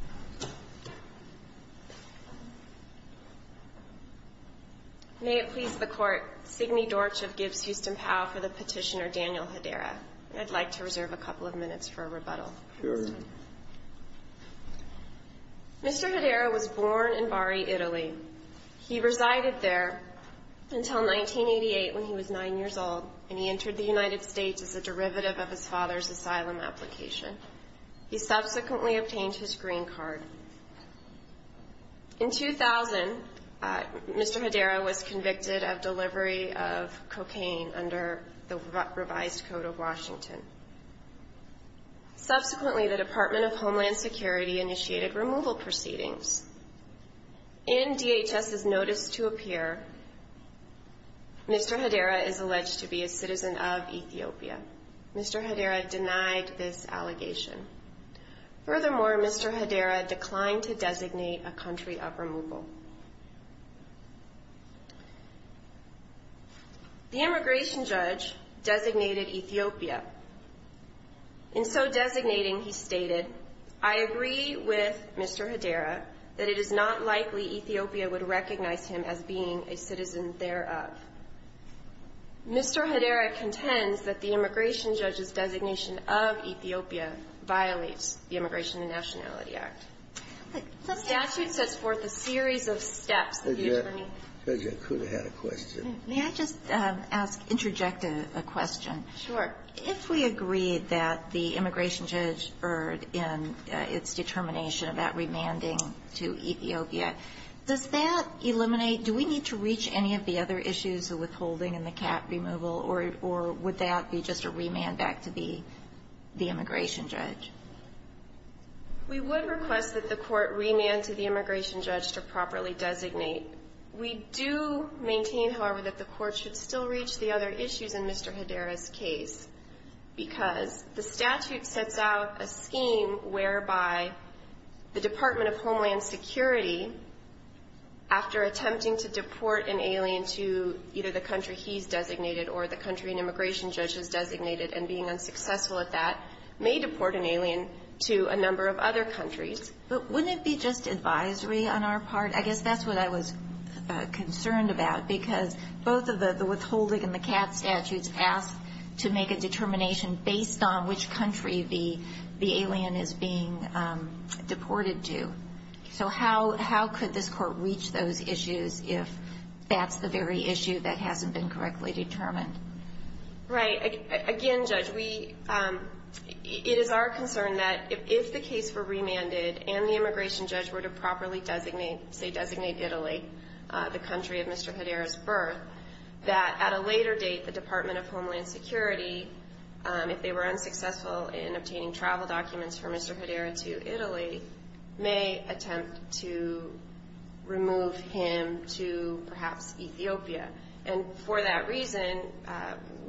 Mr. Hedera was born in Bari, Italy. He resided there until 1988, when he was 9 years old, and he entered the United States as a derivative of his father's asylum application. He subsequently obtained his green card. In 2000, Mr. Hedera was convicted of delivery of cocaine under the revised code of Washington. Subsequently, the Department of Homeland Security initiated removal proceedings. In DHS's notice to appear, Mr. Hedera is alleged to be a citizen of Ethiopia. Mr. Hedera denied this allegation. Furthermore, Mr. Hedera declined to designate a country of removal. The immigration judge designated Ethiopia. In so designating, he stated, I agree with Mr. Hedera that it is not likely Ethiopia would recognize him as being a citizen thereof. Mr. Hedera contends that the immigration judge's designation of Ethiopia violates the Immigration and Nationality Act. The statute sets forth a series of steps that the attorney ---- Kennedy, you could have had a question. May I just ask, interject a question? Sure. If we agree that the immigration judge erred in its determination about remanding to Ethiopia, does that eliminate ---- do we need to reach any of the other issues of withholding and the cap removal, or would that be just a remand back to the immigration judge? We would request that the Court remand to the immigration judge to properly designate. We do maintain, however, that the Court should still reach the other issues in Mr. Hedera's case, because the statute sets out a scheme whereby the Department of Homeland Security, after attempting to deport an alien to either the country he's designated or the country an immigration judge has designated and being unsuccessful at that, may deport an alien to a number of other countries. But wouldn't it be just advisory on our part? I guess that's what I was concerned about, because both of the withholding and the cap statutes ask to make a determination based on which country the alien is being deported to. So how could this Court reach those issues if that's the very issue that hasn't been correctly determined? Right. Again, Judge, we ---- it is our concern that if the case were remanded and the immigration judge were to properly designate, say, designate Italy, the country of Mr. Hedera's birth, that at a later date, the Department of Homeland Security, if they were unsuccessful in obtaining travel documents for Mr. Hedera to Italy, may attempt to remove him to perhaps Ethiopia. And for that reason,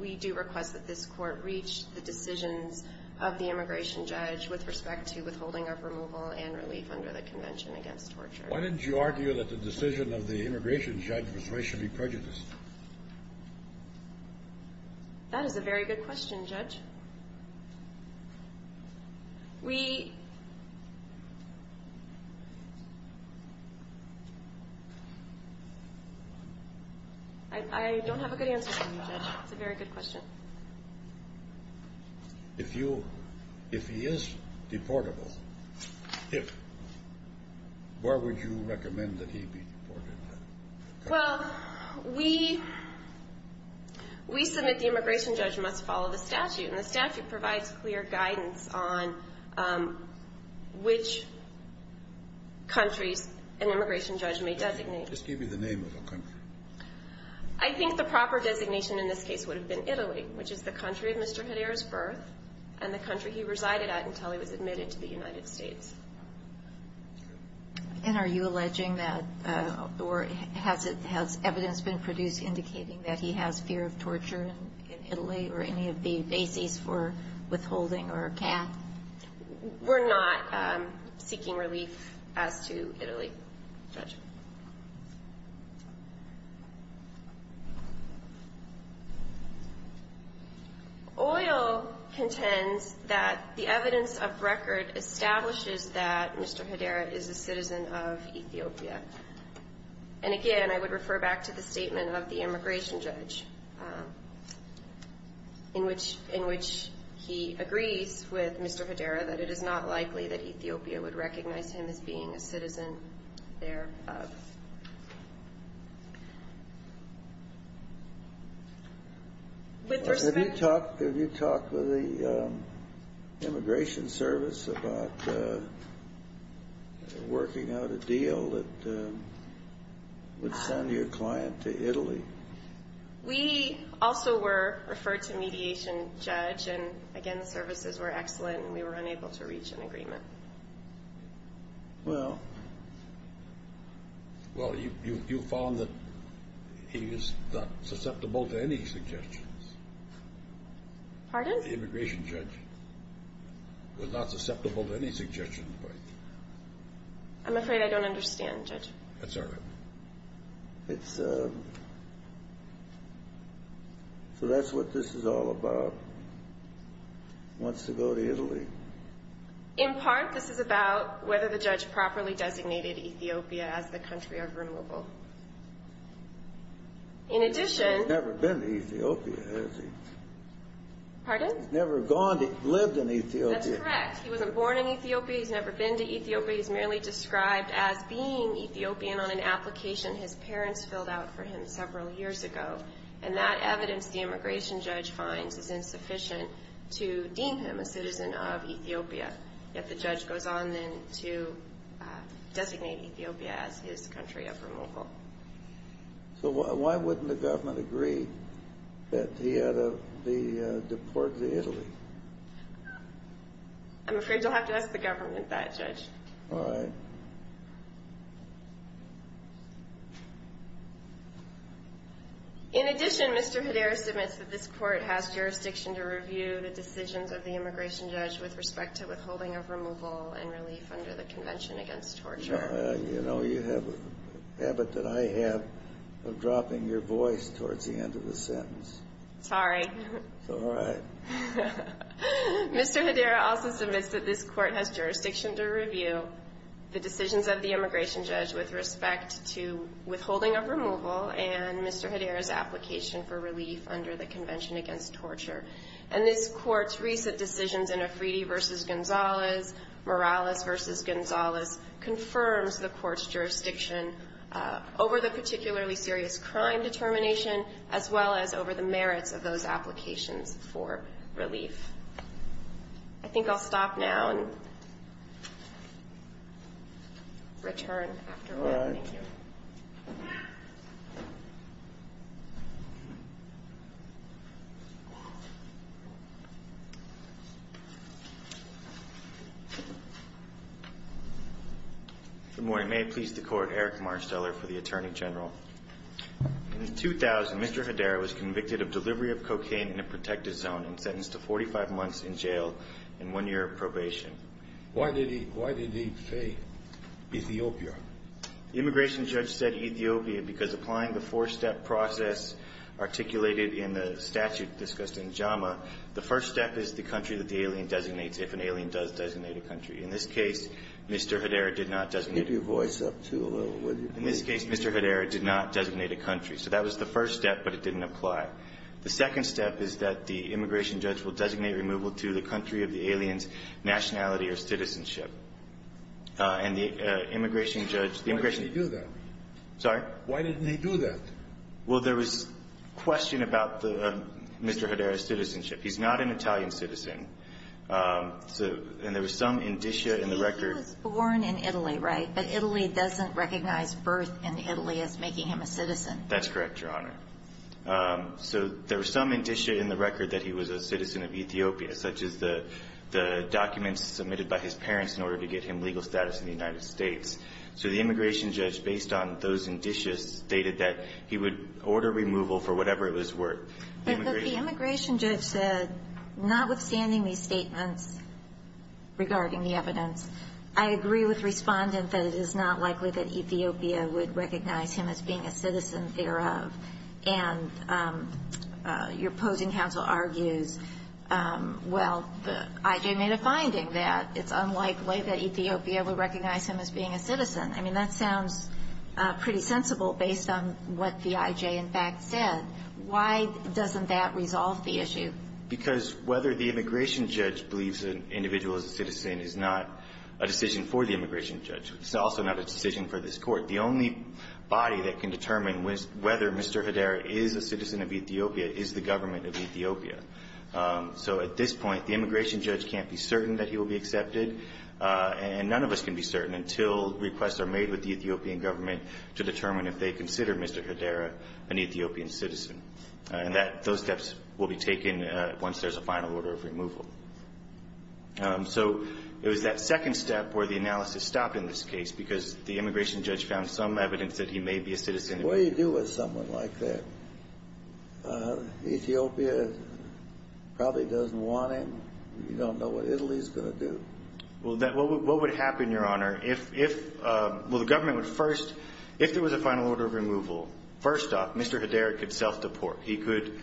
we do request that this Court reach the decisions of the immigration judge with respect to withholding of removal and relief under the Convention Against Torture. Why didn't you argue that the decision of the immigration judge was racially prejudiced? That is a very good question, Judge. We ---- I don't have a good answer for you, Judge. It's a very good question. If you ---- if he is deportable, if, where would you recommend that he be deported to? Well, we ---- we submit the immigration judge must follow the statute, and the statute provides clear guidance on which countries an immigration judge may designate. Just give me the name of the country. I think the proper designation in this case would have been Italy, which is the country of Mr. Hedera's birth and the country he resided at until he was admitted to the United States. And are you alleging that, or has it ---- has evidence been produced indicating that he has fear of torture in Italy, or any of the bases for withholding, or can? We're not seeking relief as to Italy, Judge. OIL contends that the evidence of record establishes that Mr. Hedera is a citizen of Ethiopia. And again, I would refer back to the statement of the immigration judge, in which he agrees with Mr. Hedera that it is not likely that Ethiopia would recognize him as being a citizen thereof. With respect to ---- Have you talked with the immigration service about working out a deal that would send your client to Italy? We also were referred to mediation, Judge, and again, the services were excellent, and we were unable to reach an agreement. Well, you found that he was not susceptible to any suggestions. Pardon? The immigration judge was not susceptible to any suggestions. I'm afraid I don't understand, Judge. That's all right. It's a ---- So that's what this is all about, wants to go to Italy. In part, this is about whether the judge properly designated Ethiopia as the country of removal. In addition ---- He's never been to Ethiopia, has he? Pardon? He's never gone to ---- lived in Ethiopia. That's correct. He wasn't born in Ethiopia. He's never been to Ethiopia. He's merely described as being Ethiopian on an application his parents filled out for him several years ago, and that evidence the immigration judge finds is insufficient to deem him a citizen of Ethiopia. Yet the judge goes on then to designate Ethiopia as his country of removal. So why wouldn't the government agree that he had to be deported to Italy? I'm afraid you'll have to ask the government that, Judge. All right. In addition, Mr. Hedera submits that this court has jurisdiction to review the decisions of the immigration judge with respect to withholding of removal and relief under the Convention Against Torture. You know, you have a habit that I have of dropping your voice towards the end of the sentence. Sorry. It's all right. Mr. Hedera also submits that this court has jurisdiction to review the decisions of the immigration judge with respect to withholding of removal and Mr. Hedera's application for relief under the Convention Against Torture. And this court's recent decisions in Efridi v. Gonzales, Morales v. Gonzales, confirms the court's jurisdiction over the particularly serious crime determination as well as over the merits of those applications for relief. I think I'll stop now and return after all. All right. Good morning. May it please the Court, Eric Marsteller for the Attorney General. In 2000, Mr. Hedera was convicted of delivery of cocaine in a protected zone and sentenced to 45 months in jail and one year of probation. Why did he say Ethiopia? The immigration judge said Ethiopia because applying the four-step process articulated in the statute discussed in JAMA, the first step is the country that the alien designates if an alien does designate a country. In this case, Mr. Hedera did not designate a country. Keep your voice up, too, a little, will you? In this case, Mr. Hedera did not designate a country. So that was the first step, but it didn't apply. The second step is that the immigration judge will designate removal to the country of the alien's nationality or citizenship. And the immigration judge, the immigration — Why did he do that? Sorry? Why did he do that? Well, there was a question about Mr. Hedera's citizenship. He's not an Italian citizen. And there was some indicia in the record — He was born in Italy, right? But Italy doesn't recognize birth in Italy as making him a citizen. That's correct, Your Honor. So there was some indicia in the record that he was a citizen of Ethiopia, such as the documents submitted by his parents in order to get him legal status in the United States. So the immigration judge, based on those indicia, stated that he would order removal for whatever it was worth. But the immigration judge said, notwithstanding these statements regarding the evidence, I agree with Respondent that it is not likely that Ethiopia would recognize him as being a citizen thereof. And your opposing counsel argues, well, the IJ made a finding that it's unlikely that Ethiopia would recognize him as being a citizen. I mean, that sounds pretty sensible based on what the IJ, in fact, said. Why doesn't that resolve the issue? Because whether the immigration judge believes an individual is a citizen is not a decision for the immigration judge. It's also not a decision for this Court. The only body that can determine whether Mr. Hedera is a citizen of Ethiopia is the government of Ethiopia. So at this point, the immigration judge can't be certain that he will be accepted, and none of us can be certain until requests are made with the Ethiopian government to determine if they consider Mr. Hedera an Ethiopian citizen. And those steps will be taken once there's a final order of removal. So it was that second step where the analysis stopped in this case because the immigration judge found some evidence that he may be a citizen. What do you do with someone like that? Ethiopia probably doesn't want him. You don't know what Italy's going to do. Well, what would happen, Your Honor? If the government would first, if there was a final order of removal, first off, Mr. Hedera could self-deport. He could,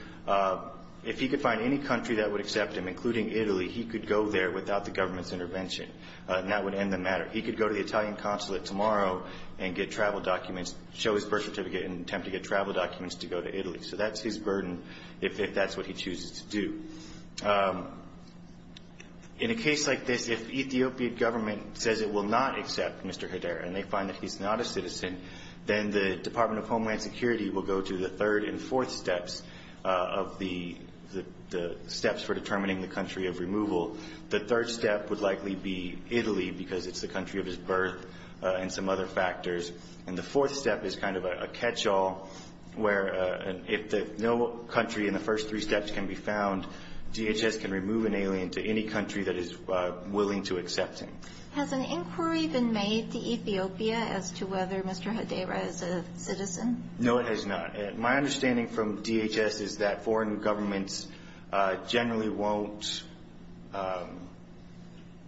if he could find any country that would accept him, including Italy, he could go there without the government's intervention, and that would end the matter. He could go to the Italian consulate tomorrow and get travel documents, show his birth certificate and attempt to get travel documents to go to Italy. So that's his burden if that's what he chooses to do. In a case like this, if Ethiopian government says it will not accept Mr. Hedera and they find that he's not a citizen, then the Department of Homeland Security will go to the third and fourth steps of the steps for determining the country of removal. The third step would likely be Italy, because it's the country of his birth and some other factors. And the fourth step is kind of a catch-all, where if no country in the first three steps can be found, DHS can remove an alien to any country that is willing to accept him. Has an inquiry been made to Ethiopia as to whether Mr. Hedera is a citizen? No, it has not. My understanding from DHS is that foreign governments generally won't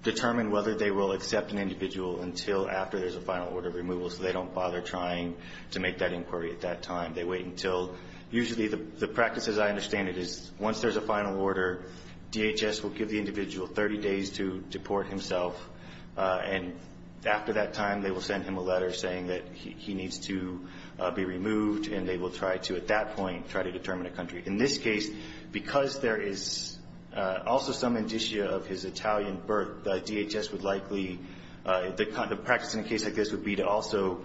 determine whether they will accept an individual until after there's a final order of removal, so they don't bother trying to make that inquiry at that time. They wait until, usually the practice as I understand it is once there's a final order, DHS will give the individual 30 days to deport himself. And after that time, they will send him a letter saying that he needs to be removed and they will try to, at that point, try to determine a country. In this case, because there is also some indicia of his Italian birth, DHS would likely, the practice in a case like this would be to also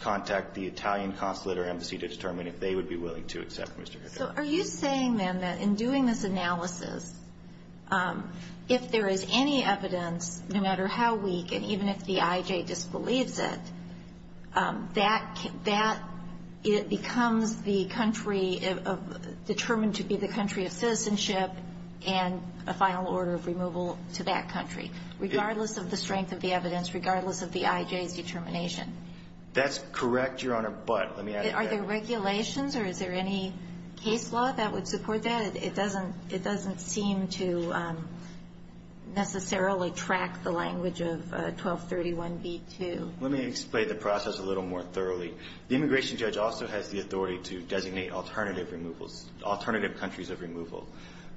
contact the Italian consulate or embassy to determine if they would be willing to accept Mr. Hedera. So are you saying then that in doing this analysis, if there is any evidence, no matter how weak and even if the IJ disbelieves it, that it becomes the country determined to be the country of citizenship and a final order of removal to that country, regardless of the strength of the evidence, regardless of the IJ's determination? That's correct, Your Honor, but let me add to that. Are there regulations or is there any case law that would support that? It doesn't seem to necessarily track the language of 1231b2. Let me explain the process a little more thoroughly. The immigration judge also has the authority to designate alternative countries of removal.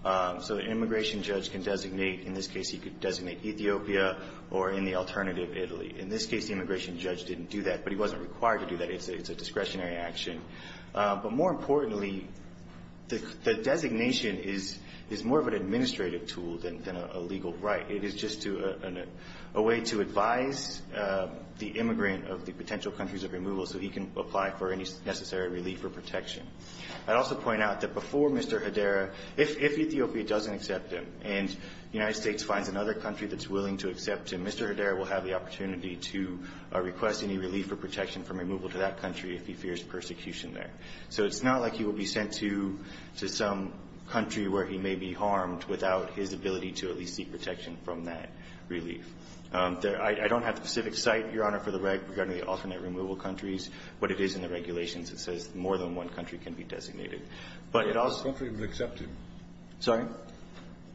So the immigration judge can designate, in this case, he could designate Ethiopia or in the alternative, Italy. In this case, the immigration judge didn't do that, but he wasn't required to do that. It's a discretionary action. But more importantly, the designation is more of an administrative tool than a legal right. It is just a way to advise the immigrant of the potential countries of removal so he can apply for any necessary relief or protection. I'd also point out that before Mr. Hedera, if Ethiopia doesn't accept him and the United States finds another country that's willing to accept him, Mr. Hedera will have the opportunity to request any relief or protection from removal to that country if he fears persecution there. So it's not like he will be sent to some country where he may be harmed without his ability to at least seek protection from that relief. I don't have the specific site, Your Honor, for the reg regarding the alternate removal countries. What it is in the regulations, it says more than one country can be designated. What if no country would accept him? Sorry?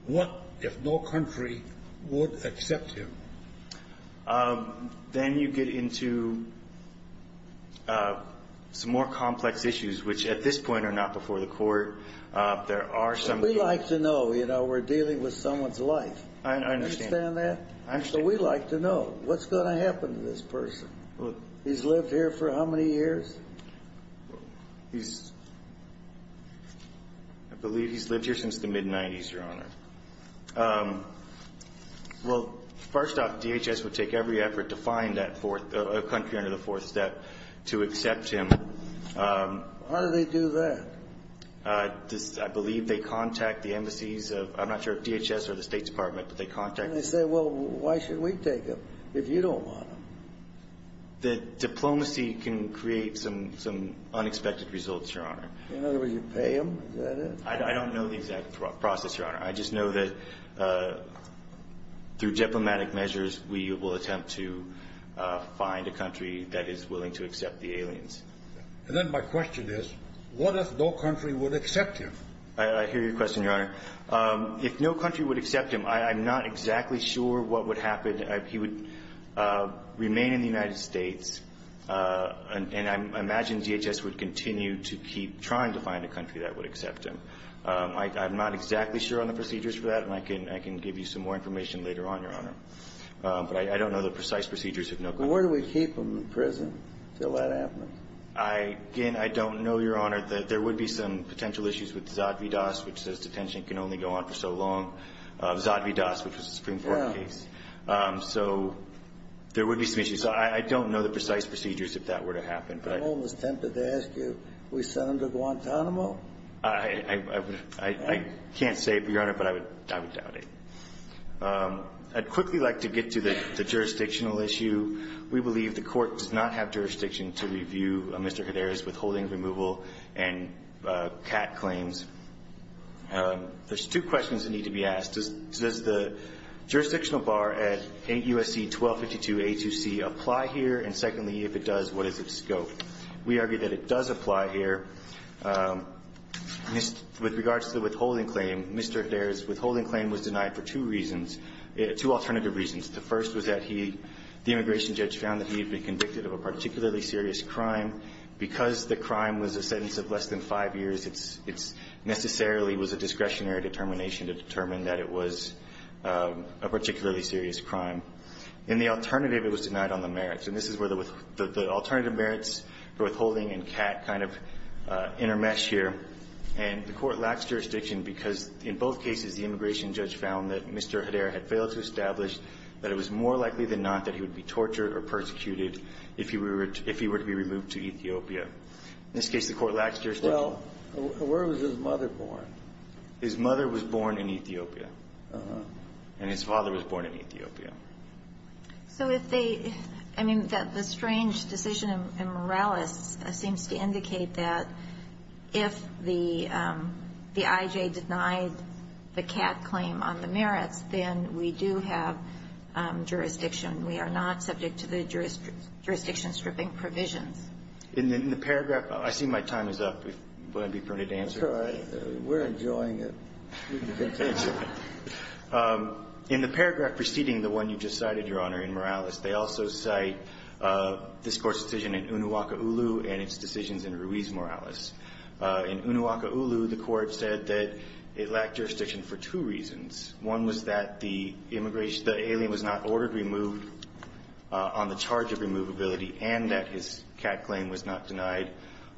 Then you get into some more complex issues, which at this point are not before the court. There are some... We like to know. We're dealing with someone's life. I understand that. So we like to know. What's going to happen to this person? He's lived here for how many years? I believe he's lived here since the mid-90s, Your Honor. Well, first off, DHS would take every effort to find a country under the fourth step to accept him. How do they do that? I believe they contact the embassies of... I'm not sure if DHS or the State Department, but they contact them. And they say, well, why should we take him if you don't want him? The diplomacy can create some unexpected results, Your Honor. In other words, you pay him? Is that it? I don't know the exact process, Your Honor. I just know that through diplomatic measures, we will attempt to find a country that is willing to accept the aliens. And then my question is, what if no country would accept him? I hear your question, Your Honor. If no country would accept him, I'm not exactly sure what would happen. He would remain in the United States, and I imagine DHS would continue to keep trying to find a country that would accept him. I'm not exactly sure on the procedures for that, and I can give you some more information later on, Your Honor. But I don't know the precise procedures of no country. Where do we keep him in prison until that happens? Again, I don't know, Your Honor. There would be some potential issues with Zadvydas, which says detention can only go on for so long. Zadvydas, which was a Supreme Court case. So there would be some issues. I don't know the precise procedures if that were to happen. I'm almost tempted to ask you, we send him to Guantanamo? I can't say, Your Honor, but I would doubt it. I'd quickly like to get to the jurisdictional issue. We believe the Court does not have jurisdiction to review Mr. Hedera's withholding, removal, and CAT claims. There's two questions that need to be asked. Does the jurisdictional bar at 8 U.S.C. 1252 A2C apply here? And secondly, if it does, what is its scope? We argue that it does apply here. With regards to the withholding claim, Mr. Hedera's withholding claim was denied for two reasons, two alternative reasons. The first was that he, the immigration judge, found that he had been convicted of a particularly serious crime. Because the crime was a sentence of less than five years, it necessarily was a discretionary determination to determine that it was a particularly serious crime. And the alternative, it was denied on the merits. And this is where the alternative merits for withholding and CAT kind of intermesh here. And the Court lacks jurisdiction because, in both cases, the immigration judge found that Mr. Hedera had failed to establish that it was more likely than not that he would be tortured or persecuted if he were to be removed to Ethiopia. In this case, the Court lacks jurisdiction. Well, where was his mother born? His mother was born in Ethiopia. Uh-huh. And his father was born in Ethiopia. So if they, I mean, the strange decision in Morales seems to indicate that if the IJ denied the CAT claim on the merits, then we do have jurisdiction. We are not subject to the jurisdiction stripping provisions. In the paragraph, I see my time is up. Would it be appropriate to answer? We're enjoying it. In the paragraph preceding the one you just cited, Your Honor, in Morales, they also cite this Court's decision in Unuaka'ulu and its decisions in Ruiz-Morales. In Unuaka'ulu, the Court said that it lacked jurisdiction for two reasons. One was that the alien was not ordered removed on the charge of removability and that his CAT claim was not denied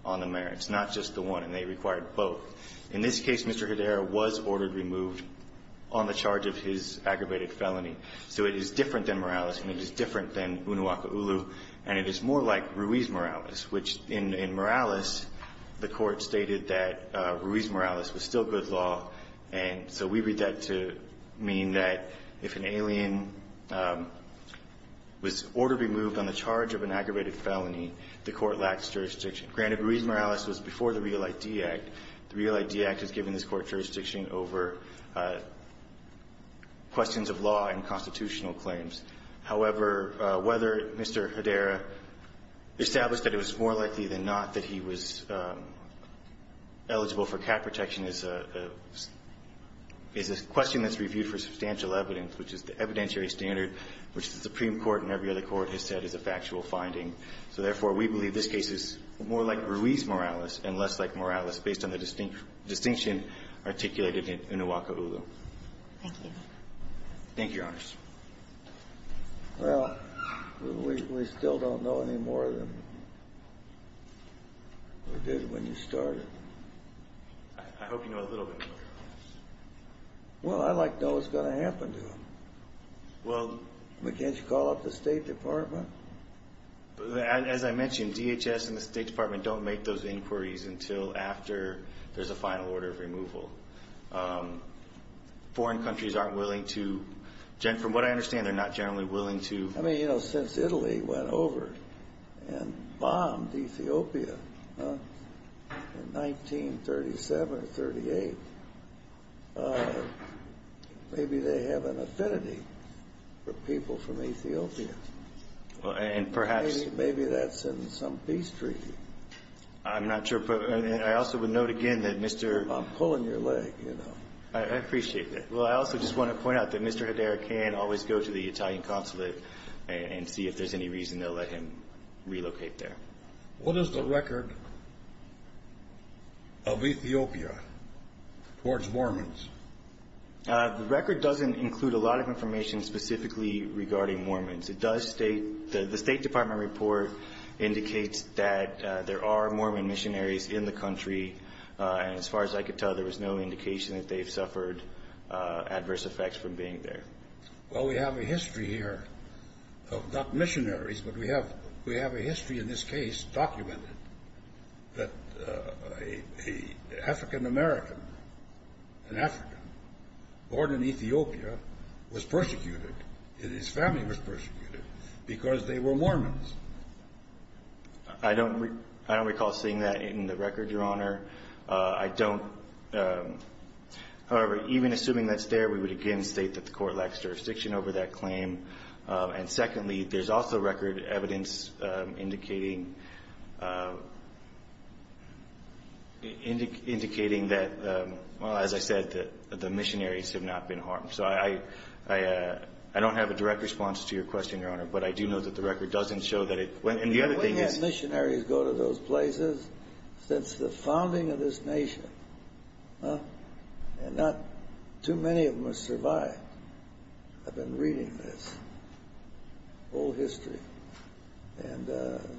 on the merits, not just the one, and they required both. In this case, Mr. Hedera was ordered removed on the charge of his aggravated felony. So it is different than Morales, and it is different than Unuaka'ulu, and it is more like Ruiz-Morales, which in Morales, the Court stated that Ruiz-Morales was still good law, and so we read that to mean that if an alien was ordered removed on the charge of an aggravated felony, the Court lacks jurisdiction. Granted, Ruiz-Morales was before the REAL ID Act. The REAL ID Act has given this Court jurisdiction over questions of law and constitutional claims. However, whether Mr. Hedera established that it was more likely than not that he was eligible for CAT protection is a question that's reviewed for substantial evidence, which is the evidentiary standard, which the Supreme Court and every other court has said is a factual finding. So, therefore, we believe this case is more like Ruiz-Morales and less like Morales based on the distinction articulated in Unuaka'ulu. Thank you. Thank you, Your Honors. Well, we still don't know any more than we did when you started. I hope you know a little bit more. Well, I'd like to know what's going to happen to him. Well. Can't you call up the State Department? As I mentioned, DHS and the State Department don't make those inquiries until after there's a final order of removal. Foreign countries aren't willing to, from what I understand, they're not generally willing to. I mean, you know, since Italy went over and bombed Ethiopia in 1937 or 38, maybe they have an affinity for people from Ethiopia. And perhaps. Maybe that's in some peace treaty. I'm not sure. And I also would note again that Mr. I'm pulling your leg, you know. I appreciate that. Well, I also just want to point out that Mr. Hedera can always go to the Italian consulate and see if there's any reason they'll let him relocate there. What is the record of Ethiopia towards Mormons? The record doesn't include a lot of information specifically regarding Mormons. It does state that the State Department report indicates that there are Mormon missionaries in the country. And as far as I could tell, there was no indication that they've suffered adverse effects from being there. Well, we have a history here of not missionaries, but we have a history in this case documented that an African-American, an African, born in Ethiopia, was persecuted. His family was persecuted because they were Mormons. I don't recall seeing that in the record, Your Honor. However, even assuming that's there, we would again state that the court lacks jurisdiction over that claim. And secondly, there's also record evidence indicating that, as I said, the missionaries have not been harmed. So I don't have a direct response to your question, Your Honor. But I do know that the record doesn't show that it... We've had missionaries go to those places since the founding of this nation. And not too many of them have survived. I've been reading this whole history. And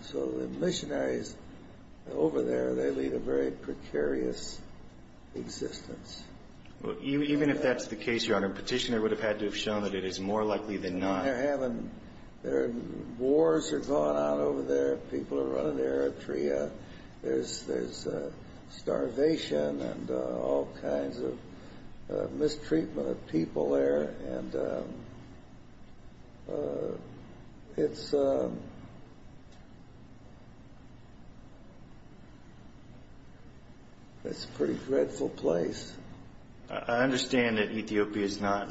so the missionaries over there, they lead a very precarious existence. Even if that's the case, Your Honor, a petitioner would have had to have shown that it is more likely than not. And they're having... Wars are going on over there. People are running their atria. There's starvation and all kinds of mistreatment of people there. And it's... It's a pretty dreadful place. I understand that Ethiopia is not...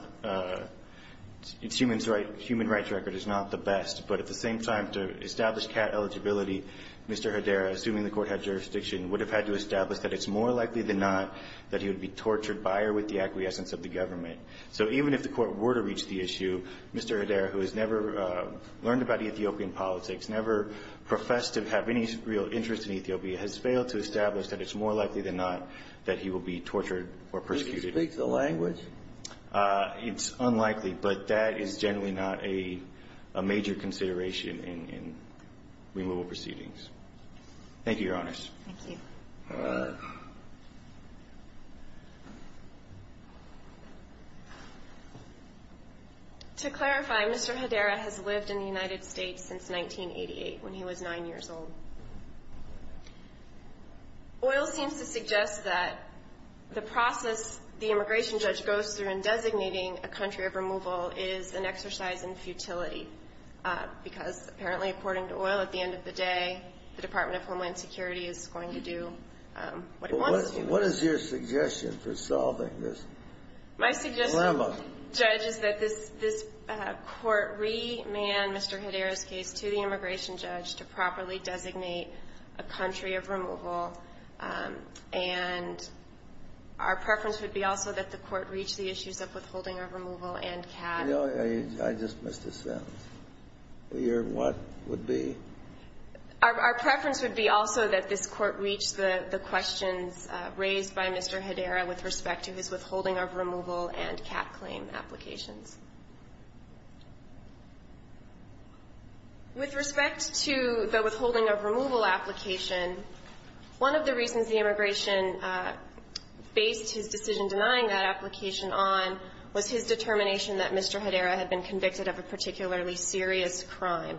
It's human rights record is not the best. But at the same time, to establish CAT eligibility, Mr. Hedera, assuming the court had jurisdiction, would have had to establish that it's more likely than not that he would be tortured by or with the acquiescence of the government. So even if the court were to reach the issue, Mr. Hedera, who has never learned about Ethiopian politics, never professed to have any real interest in Ethiopia, has failed to establish that it's more likely than not that he will be tortured or persecuted. Does he speak the language? It's unlikely, but that is generally not a major consideration in removal proceedings. Thank you, Your Honors. Thank you. To clarify, Mr. Hedera has lived in the United States since 1988, when he was 9 years old. Oil seems to suggest that the process the immigration judge goes through in designating a country of removal is an exercise in futility, because apparently, according to Oil, at the end of the day, the Department of Homeland Security is going to do what it wants to do. What is your suggestion for solving this dilemma? My suggestion, Judge, is that this court remand Mr. Hedera's case to the immigration judge to properly designate a country of removal, and our preference would be also that the court reach the issues of withholding of removal and CAT. I just missed a sentence. Your what would be? Our preference would be also that this court reach the questions raised by Mr. Hedera with respect to his withholding of removal and CAT claim applications. With respect to the withholding of removal application, one of the reasons the immigration faced his decision denying that application on was his determination that Mr. Hedera had been convicted of a particularly serious crime.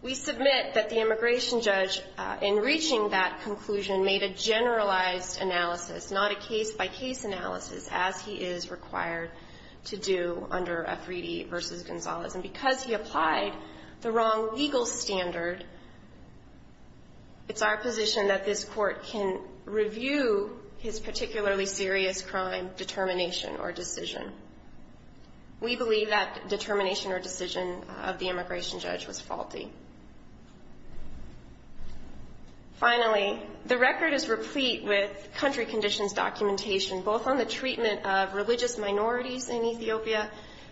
We submit that the immigration judge, in reaching that conclusion, made a generalized analysis, not a case-by-case analysis, as he is required to do. under F. Reedy v. Gonzalez. And because he applied the wrong legal standard, it's our position that this court can review his particularly serious crime determination or decision. We believe that determination or decision of the immigration judge was faulty. Finally, the record is replete with country conditions documentation, both on the treatment of religious minorities in Ethiopia,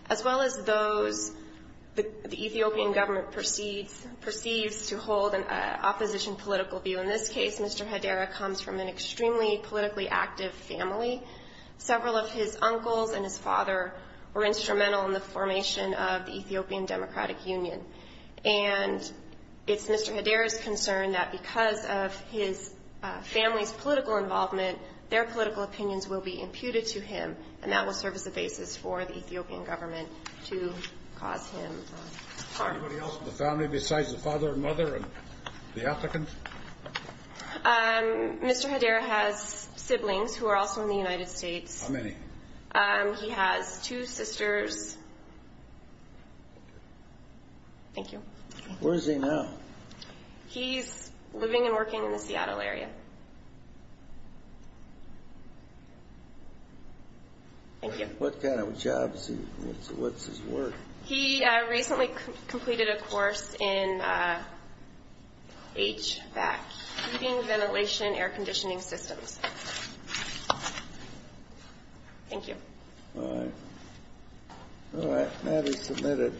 as well as those the Ethiopian government perceives to hold an opposition political view. In this case, Mr. Hedera comes from an extremely politically active family. Several of his uncles and his father were instrumental in the formation of the Ethiopian Democratic Union. And it's Mr. Hedera's concern that because of his family's political involvement, their political opinions will be imputed to him, and that will serve as the basis for the Ethiopian government to cause him harm. Anybody else in the family besides the father and mother and the applicant? Mr. Hedera has siblings who are also in the United States. How many? He has two sisters. Thank you. Where is he now? He's living and working in the Seattle area. Okay. Thank you. What kind of jobs? What's his work? He recently completed a course in HVAC, heating, ventilation, air conditioning systems. Thank you. All right. All right. That is submitted.